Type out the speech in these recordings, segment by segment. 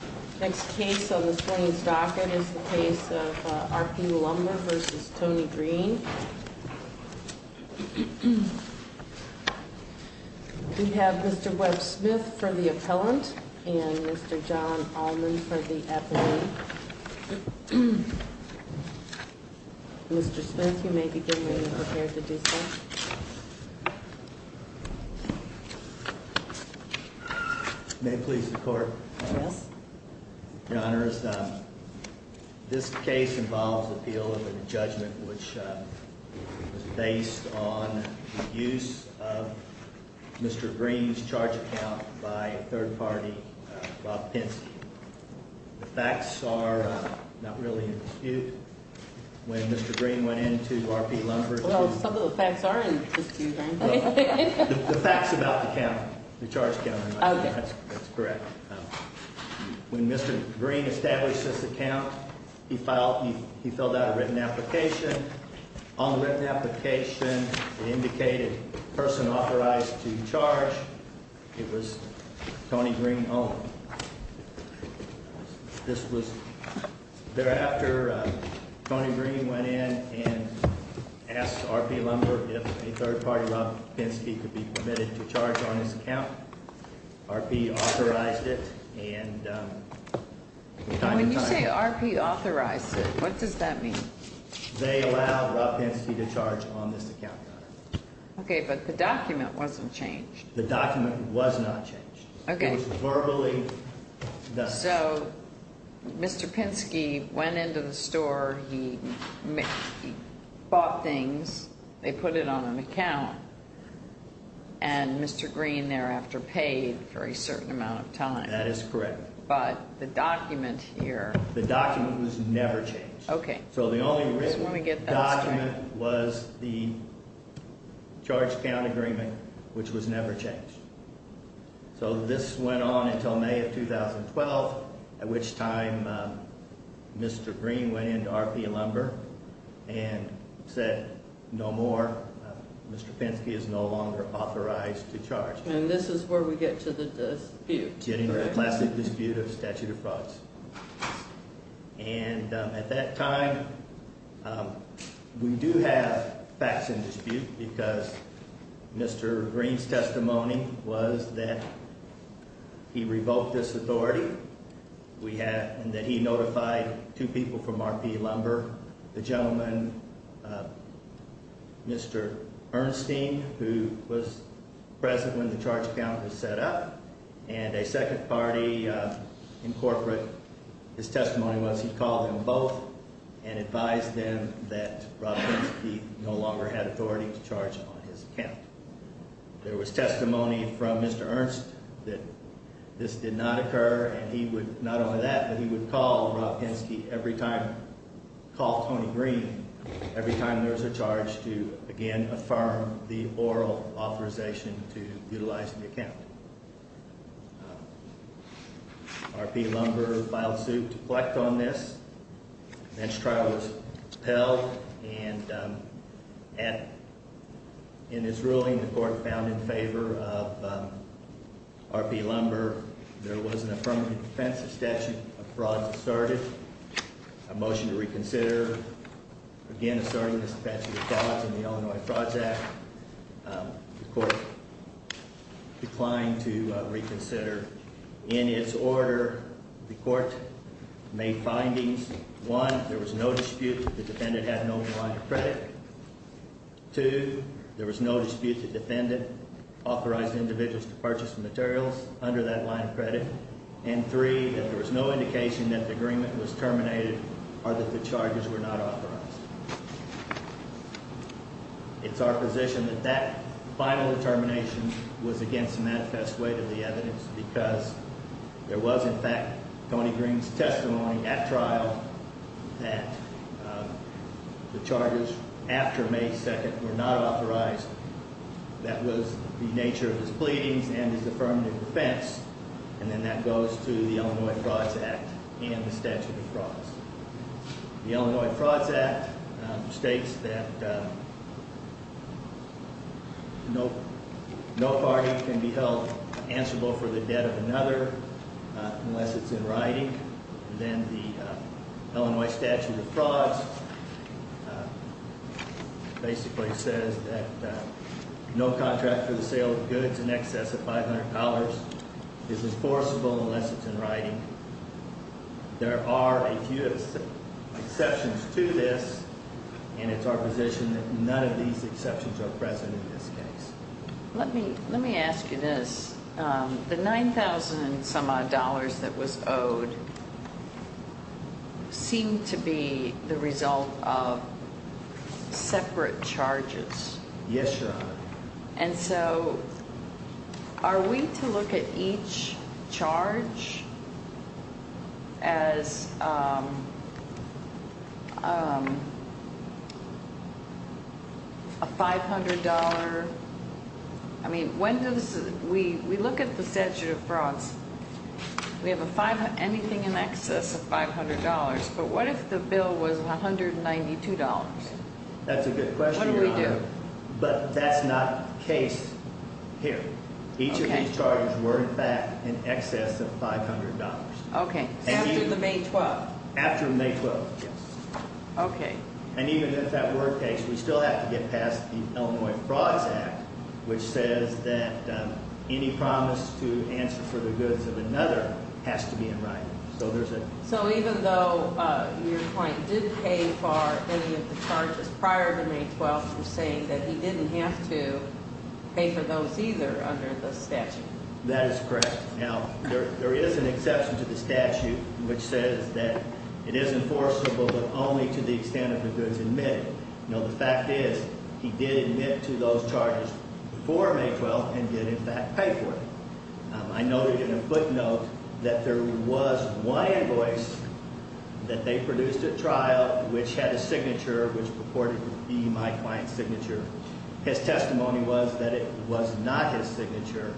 We have Mr. Webb Smith for the appellant and Mr. John Allman for the appellant. Mr. Smith, you may begin when you're prepared to do so. May it please the Court? Yes. Your Honor, this case involves the appeal of a judgment which was based on the use of Mr. Green's charge account by a third party, Bob Penske. The facts are not really in dispute. When Mr. Green went into R.P. Lumber Co. Well, some of the facts are in dispute, aren't they? The facts about the count, the charge count, that's correct. When Mr. Green established this account, he filled out a written application. On the written application, it indicated person authorized to charge. It was Tony Green alone. Thereafter, Tony Green went in and asked R.P. Lumber if a third party, Rob Penske, could be permitted to charge on this account. R.P. authorized it. When you say R.P. authorized it, what does that mean? They allowed Rob Penske to charge on this account. Okay, but the document wasn't changed. The document was not changed. Okay. It was verbally done. So Mr. Penske went into the store, he bought things, they put it on an account, and Mr. Green thereafter paid for a certain amount of time. That is correct. But the document here. The document was never changed. Okay. So the only written document was the charge count agreement, which was never changed. So this went on until May of 2012, at which time Mr. Green went in to R.P. Lumber and said no more, Mr. Penske is no longer authorized to charge. And this is where we get to the dispute. Getting to the classic dispute of statute of frauds. And at that time, we do have facts in dispute because Mr. Green's testimony was that he revoked this authority and that he notified two people from R.P. Lumber, the gentleman, Mr. Ernstine, who was present when the charge count was set up, and a second party in corporate. So his testimony was he called them both and advised them that Rob Penske no longer had authority to charge on his account. There was testimony from Mr. Ernst that this did not occur and he would, not only that, but he would call Rob Penske every time, call Tony Green every time there was a charge to again affirm the oral authorization to utilize the account. R.P. Lumber filed suit to collect on this. The next trial was upheld and in this ruling, the court found in favor of R.P. Lumber. There was an affirmative defense of statute of frauds asserted. A motion to reconsider, again asserting Mr. Penske's authority in the Illinois Frauds Act. The court declined to reconsider. In its order, the court made findings. One, there was no dispute that the defendant had an open line of credit. Two, there was no dispute that the defendant authorized individuals to purchase materials under that line of credit. And three, there was no indication that the agreement was terminated or that the charges were not authorized. It's our position that that final determination was against manifest weight of the evidence because there was, in fact, Tony Green's testimony at trial that the charges after May 2nd were not authorized. That was the nature of his pleadings and his affirmative defense, and then that goes to the Illinois Frauds Act and the statute of frauds. The Illinois Frauds Act states that no party can be held answerable for the debt of another unless it's in writing. Then the Illinois statute of frauds basically says that no contract for the sale of goods in excess of $500 is enforceable unless it's in writing. There are a few exceptions to this, and it's our position that none of these exceptions are present in this case. Let me ask you this. The $9,000-some-odd that was owed seemed to be the result of separate charges. Yes, Your Honor. And so are we to look at each charge as a $500? I mean, we look at the statute of frauds. We have anything in excess of $500, but what if the bill was $192? That's a good question, Your Honor. What do we do? But that's not the case here. Each of these charges were, in fact, in excess of $500. Okay. After the May 12th? After May 12th, yes. Okay. And even if that were the case, we still have to get past the Illinois Frauds Act, which says that any promise to answer for the goods of another has to be in writing. So even though your client did pay for any of the charges prior to May 12th, you're saying that he didn't have to pay for those either under the statute? That is correct. Now, there is an exception to the statute which says that it is enforceable but only to the extent of the goods admitted. Now, the fact is he did admit to those charges before May 12th and did, in fact, pay for them. I noted in a footnote that there was one invoice that they produced at trial which had a signature which purported to be my client's signature. His testimony was that it was not his signature.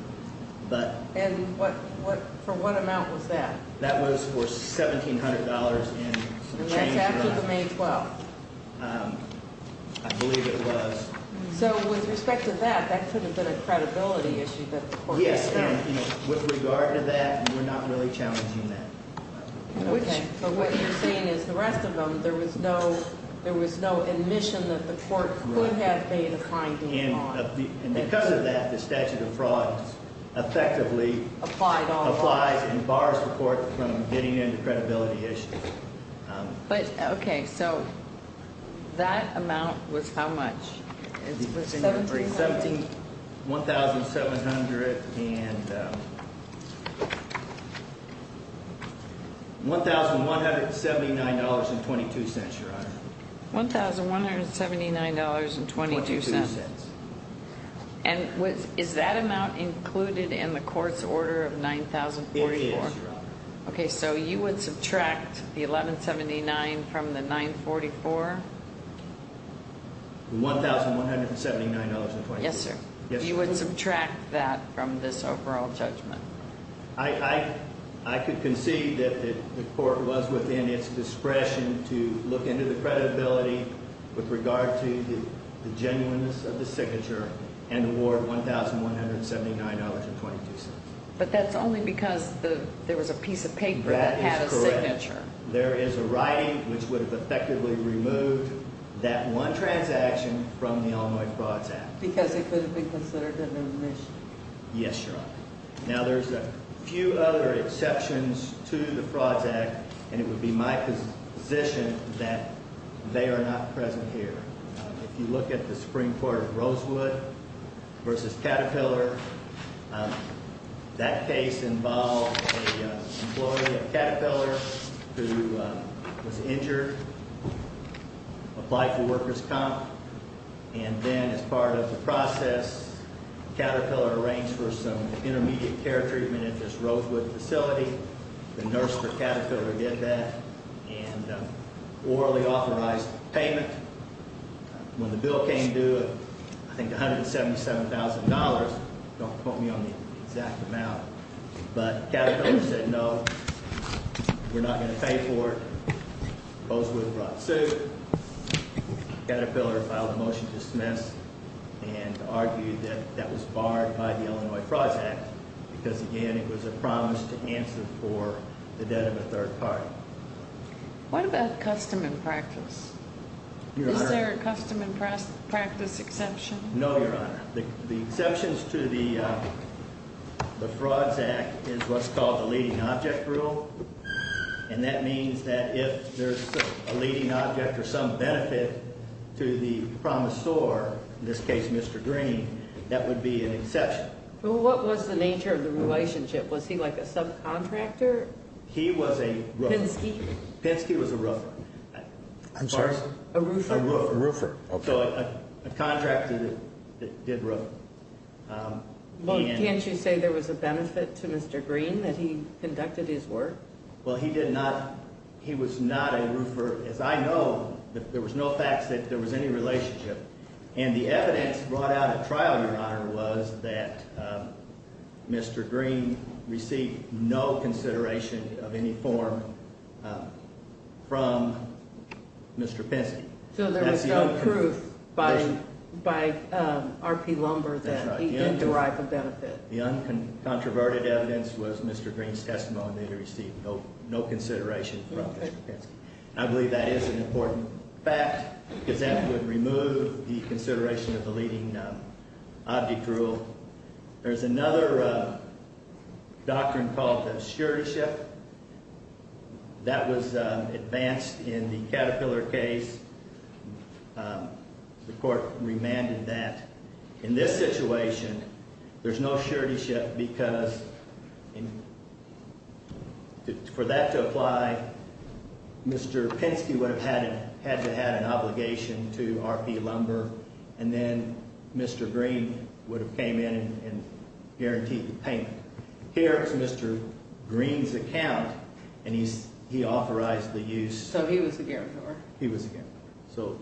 And for what amount was that? That was for $1,700 in change. And that's after the May 12th? I believe it was. So with respect to that, that could have been a credibility issue that the court had. Yes. And with regard to that, we're not really challenging that. Okay. But what you're saying is the rest of them, there was no admission that the court could have made a fine deal on. And because of that, the statute of frauds effectively applies and bars the court from getting into credibility issues. Okay. So that amount was how much? $1,700 and $1,179.22, Your Honor. $1,179.22. $1,179.22. And is that amount included in the court's order of $9,044? It is, Your Honor. Okay. So you would subtract the $1,179 from the $944? $1,179.22. Yes, sir. You would subtract that from this overall judgment. I could concede that the court was within its discretion to look into the credibility with regard to the genuineness of the signature and award $1,179.22. But that's only because there was a piece of paper that had a signature. That is correct. There is a writing which would have effectively removed that one transaction from the Illinois Frauds Act. Because it could have been considered an omission. Yes, Your Honor. Now, there's a few other exceptions to the Frauds Act, and it would be my position that they are not present here. If you look at the Supreme Court of Rosewood v. Caterpillar, that case involved an employee of Caterpillar who was injured, applied for worker's comp. And then as part of the process, Caterpillar arranged for some intermediate care treatment at this Rosewood facility. The nurse for Caterpillar did that and orally authorized payment. When the bill came due, I think $177,000. Don't quote me on the exact amount. But Caterpillar said, no, we're not going to pay for it. Rosewood brought the suit. Caterpillar filed a motion to dismiss and argued that that was barred by the Illinois Frauds Act. Because, again, it was a promise to answer for the debt of a third party. What about custom and practice? Is there a custom and practice exception? No, Your Honor. The exceptions to the Frauds Act is what's called the leading object rule. And that means that if there's a leading object or some benefit to the promisor, in this case Mr. Green, that would be an exception. But what was the nature of the relationship? Was he like a subcontractor? He was a roofer. Pinsky? Pinsky was a roofer. I'm sorry? A roofer? A roofer. So a contractor that did roofing. Well, can't you say there was a benefit to Mr. Green that he conducted his work? Well, he did not. He was not a roofer. As I know, there was no facts that there was any relationship. And the evidence brought out at trial, Your Honor, was that Mr. Green received no consideration of any form from Mr. Pinsky. So there was no proof by R.P. Lumber that he didn't derive a benefit. The uncontroverted evidence was Mr. Green's testimony that he received no consideration from Mr. Pinsky. I believe that is an important fact because that would remove the consideration of the leading object rule. There's another doctrine called the suretyship. That was advanced in the Caterpillar case. The court remanded that. In this situation, there's no suretyship because for that to apply, Mr. Pinsky would have had to have had an obligation to R.P. Lumber. And then Mr. Green would have came in and guaranteed the payment. Here is Mr. Green's account, and he authorized the use. So he was the guarantor. He was the guarantor. So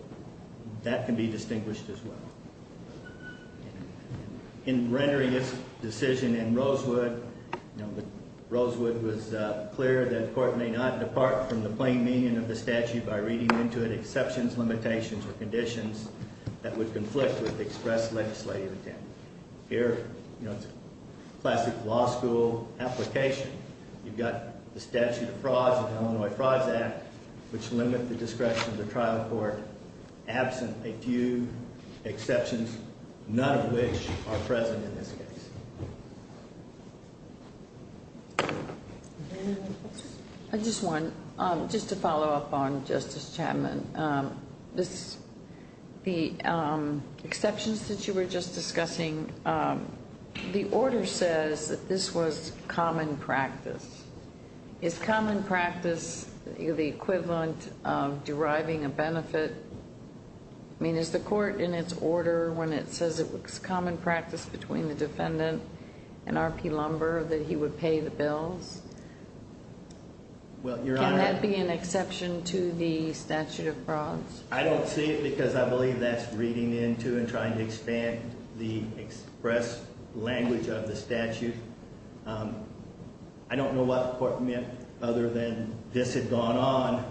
that can be distinguished as well. In rendering his decision in Rosewood, Rosewood was clear that the court may not depart from the plain meaning of the statute by reading into it exceptions, limitations, or conditions that would conflict with the express legislative intent. Here, you know, it's a classic law school application. You've got the statute of frauds, the Illinois Frauds Act, which limit the discretion of the trial court absent a few exceptions, none of which are present in this case. I just want just to follow up on Justice Chapman. The exceptions that you were just discussing, the order says that this was common practice. Is common practice the equivalent of deriving a benefit? I mean, is the court in its order when it says it was common practice between the defendant and R.P. Lumber that he would pay the bills? Can that be an exception to the statute of frauds? I don't see it because I believe that's reading into and trying to expand the express language of the statute. I don't know what the court meant other than this had gone on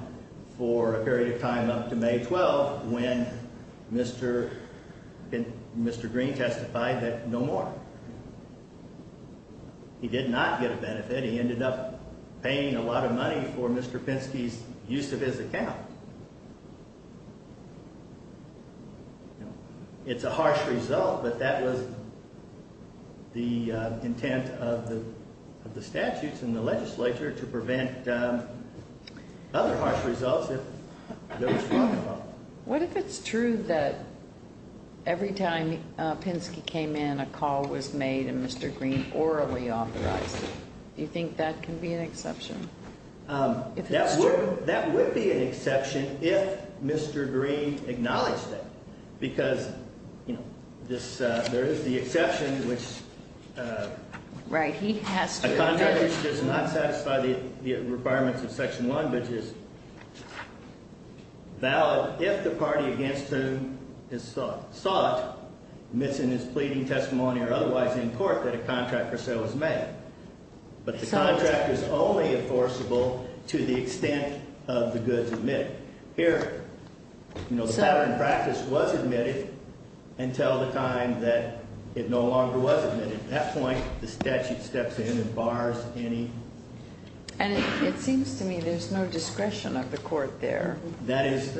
for a period of time up to May 12 when Mr. Green testified that no more. He did not get a benefit. He ended up paying a lot of money for Mr. Pinsky's use of his account. It's a harsh result, but that was the intent of the statutes and the legislature to prevent other harsh results if there was fraud involved. What if it's true that every time Pinsky came in, a call was made and Mr. Green orally authorized it? Do you think that can be an exception? That would be an exception if Mr. Green acknowledged it, because there is the exception which a contract which does not satisfy the requirements of Section 1, which is valid if the party against whom is sought admits in his pleading testimony or otherwise in court that a contract or so is made. But the contract is only enforceable to the extent of the goods admitted. Here, you know, the pattern of practice was admitted until the time that it no longer was admitted. At that point, the statute steps in and bars any. And it seems to me there's no discretion of the court there. That is.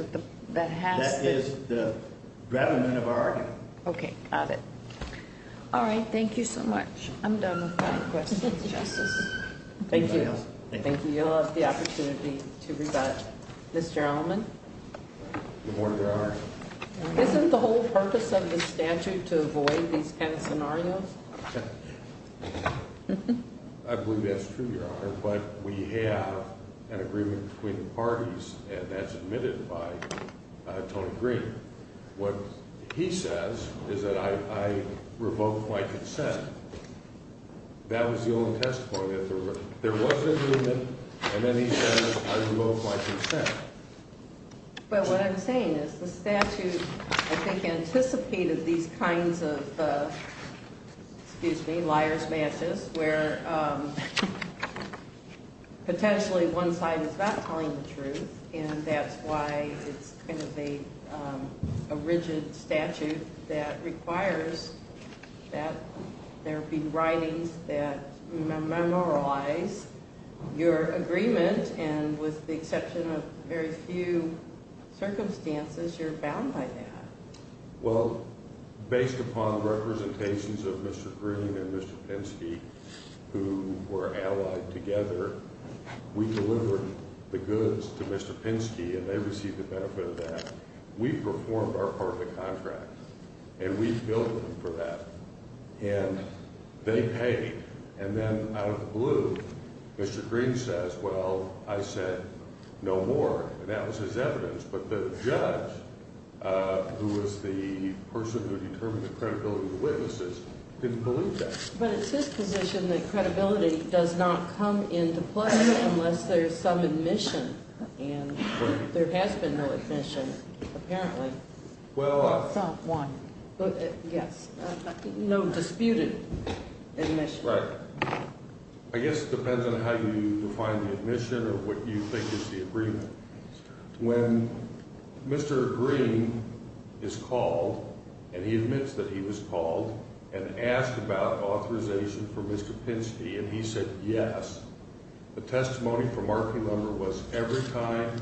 That has. That is the government of our. Okay. Got it. All right. Thank you so much. I'm done with my questions. Justice. Thank you. Thank you. You'll have the opportunity to rebut. Mr. Allman. Isn't the whole purpose of the statute to avoid these kind of scenarios? I believe that's true, Your Honor. But we have an agreement between the parties, and that's admitted by Tony Green. What he says is that I revoke my consent. That was the only testimony that there was. There was an agreement, and then he says I revoke my consent. But what I'm saying is the statute, I think, anticipated these kinds of, excuse me, liar's matches where potentially one side is not telling the truth. And that's why it's kind of a rigid statute that requires that there be writings that memorialize your agreement. And with the exception of very few circumstances, you're bound by that. Well, based upon representations of Mr. Green and Mr. Pinsky who were allied together, we delivered the goods to Mr. Pinsky, and they received the benefit of that. We performed our part of the contract, and we billed him for that. And they paid. And then out of the blue, Mr. Green says, well, I said no more. And that was his evidence. But the judge, who was the person who determined the credibility of the witnesses, didn't believe that. But it's his position that credibility does not come into play unless there's some admission. And there has been no admission, apparently. Not one. Yes. No disputed admission. Right. I guess it depends on how you define the admission or what you think is the agreement. When Mr. Green is called, and he admits that he was called, and asked about authorization for Mr. Pinsky, and he said yes, the testimony from our crew member was every time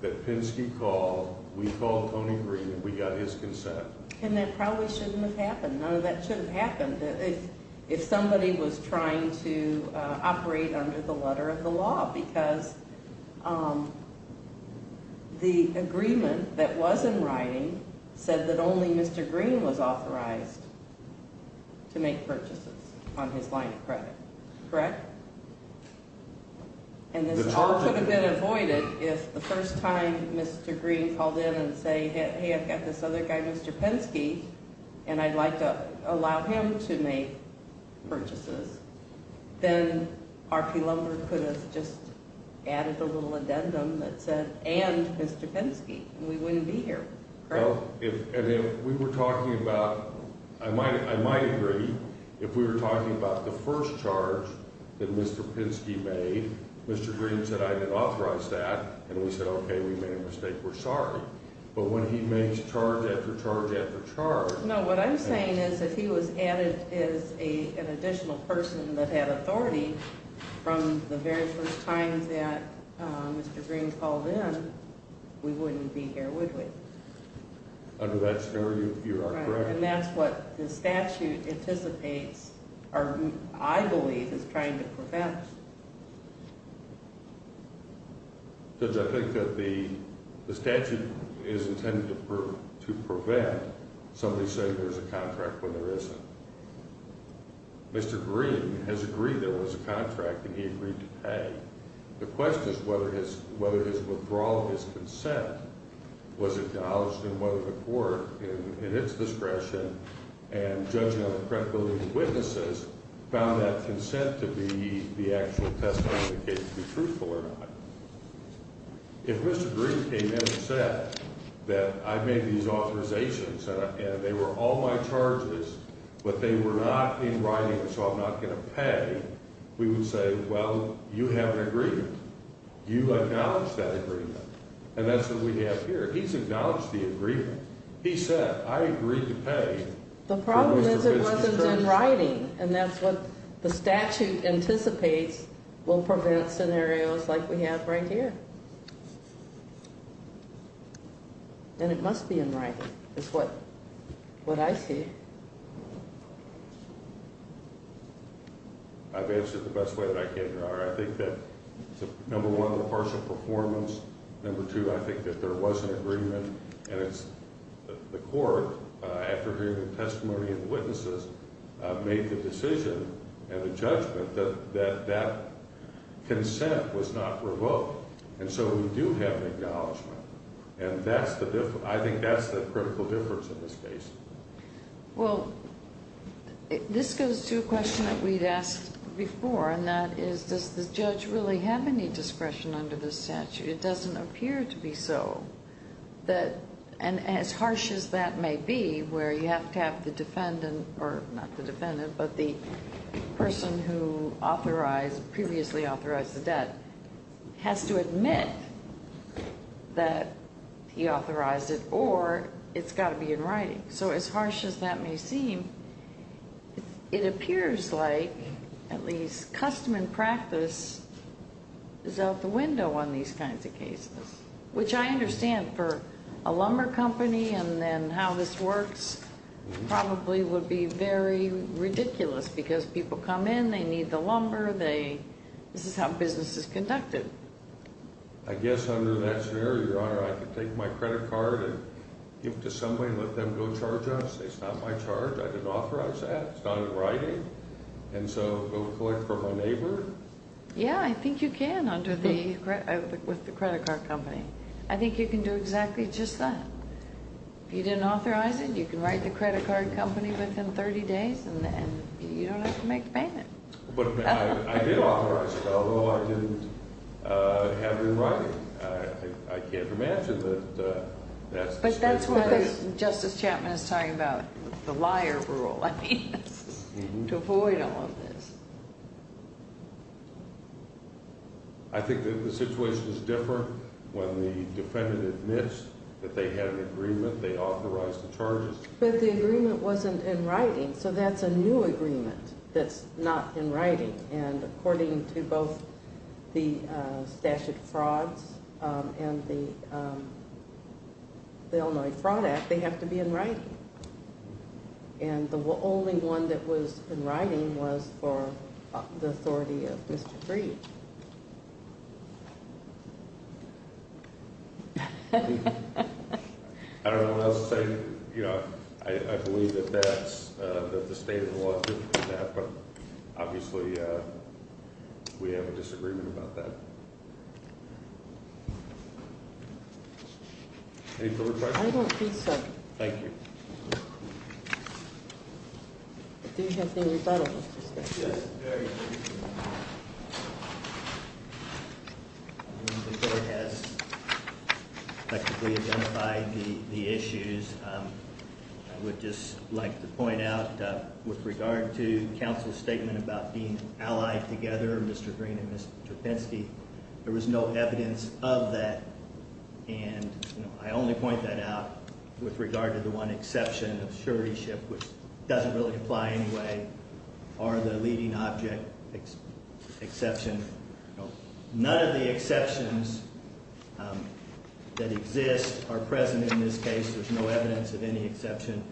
that Pinsky called, we called Tony Green and we got his consent. And that probably shouldn't have happened. None of that should have happened if somebody was trying to operate under the letter of the law. Because the agreement that was in writing said that only Mr. Green was authorized to make purchases on his line of credit. Correct? And this charge could have been avoided if the first time Mr. Green called in and said, hey, I've got this other guy, Mr. Pinsky, and I'd like to allow him to make purchases. Then RP Lumber could have just added a little addendum that said, and Mr. Pinsky, and we wouldn't be here. And if we were talking about, I might agree, if we were talking about the first charge that Mr. Pinsky made, Mr. Green said, I didn't authorize that, and we said, okay, we made a mistake, we're sorry. But when he makes charge after charge after charge. No, what I'm saying is if he was added as an additional person that had authority from the very first time that Mr. Green called in, we wouldn't be here, would we? Under that scenario, you are correct. And that's what the statute anticipates, or I believe is trying to prevent. Judge, I think that the statute is intended to prevent somebody saying there's a contract when there isn't. Mr. Green has agreed there was a contract, and he agreed to pay. The question is whether his withdrawal of his consent was acknowledged, and whether the court, in its discretion, and judging on the credibility of the witnesses, found that consent to be the actual testimony of the case to be truthful or not. If Mr. Green came in and said that I made these authorizations, and they were all my charges, but they were not in writing, so I'm not going to pay, we would say, well, you have an agreement. You acknowledge that agreement. And that's what we have here. He's acknowledged the agreement. He said, I agreed to pay. The problem is it wasn't in writing, and that's what the statute anticipates will prevent scenarios like we have right here. And it must be in writing, is what I see. I've answered it the best way that I can, Your Honor. I think that, number one, the partial performance. Number two, I think that there was an agreement, and it's the court, after hearing the testimony of the witnesses, made the decision and the judgment that that consent was not revoked. And so we do have an acknowledgment, and that's the difference. I think that's the critical difference in this case. Well, this goes to a question that we'd asked before, and that is, does the judge really have any discretion under this statute? It doesn't appear to be so. And as harsh as that may be, where you have to have the defendant, or not the defendant, but the person who authorized, previously authorized the debt, has to admit that he authorized it, or it's got to be in writing. So as harsh as that may seem, it appears like at least custom and practice is out the window on these kinds of cases, which I understand for a lumber company and then how this works probably would be very ridiculous because people come in, they need the lumber, this is how business is conducted. I guess under that scenario, Your Honor, I could take my credit card and give it to somebody and let them go charge us. It's not my charge. I didn't authorize that. It's not in writing. And so go collect from a neighbor? Yeah, I think you can with the credit card company. I think you can do exactly just that. If you didn't authorize it, you can write the credit card company within 30 days, and you don't have to make the payment. But I did authorize it, although I didn't have it in writing. I can't imagine that that's the special case. But that's why Justice Chapman is talking about the liar rule, I mean, to avoid all of this. I think that the situation is different when the defendant admits that they had an agreement, they authorized the charges. But the agreement wasn't in writing, so that's a new agreement that's not in writing. And according to both the statute of frauds and the Illinois Fraud Act, they have to be in writing. And the only one that was in writing was for the authority of Mr. Breed. I don't know what else to say. I believe that the state of the law is different than that, but obviously we have a disagreement about that. Any further questions? I don't think so. Thank you. Do you have anything in front of you? Yes, very briefly. The court has effectively identified the issues. I would just like to point out, with regard to counsel's statement about being allied together, Mr. Green and Mr. Pinsky, there was no evidence of that. And I only point that out with regard to the one exception of suretyship, which doesn't really apply anyway, or the leading object exception. None of the exceptions that exist are present in this case. There's no evidence of any exception.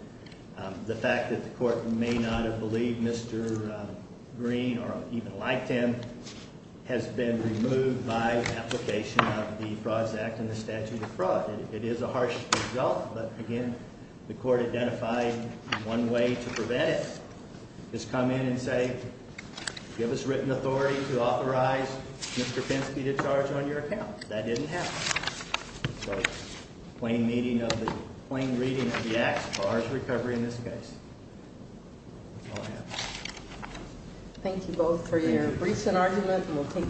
The fact that the court may not have believed Mr. Green, or even liked him, has been removed by application of the Frauds Act and the statute of frauds. It is a harsh result, but again, the court identified one way to prevent it. Just come in and say, give us written authority to authorize Mr. Pinsky to charge on your account. That didn't happen. That's a plain reading of the act as far as recovery in this case. That's all I have. Thank you both for your briefs and argument.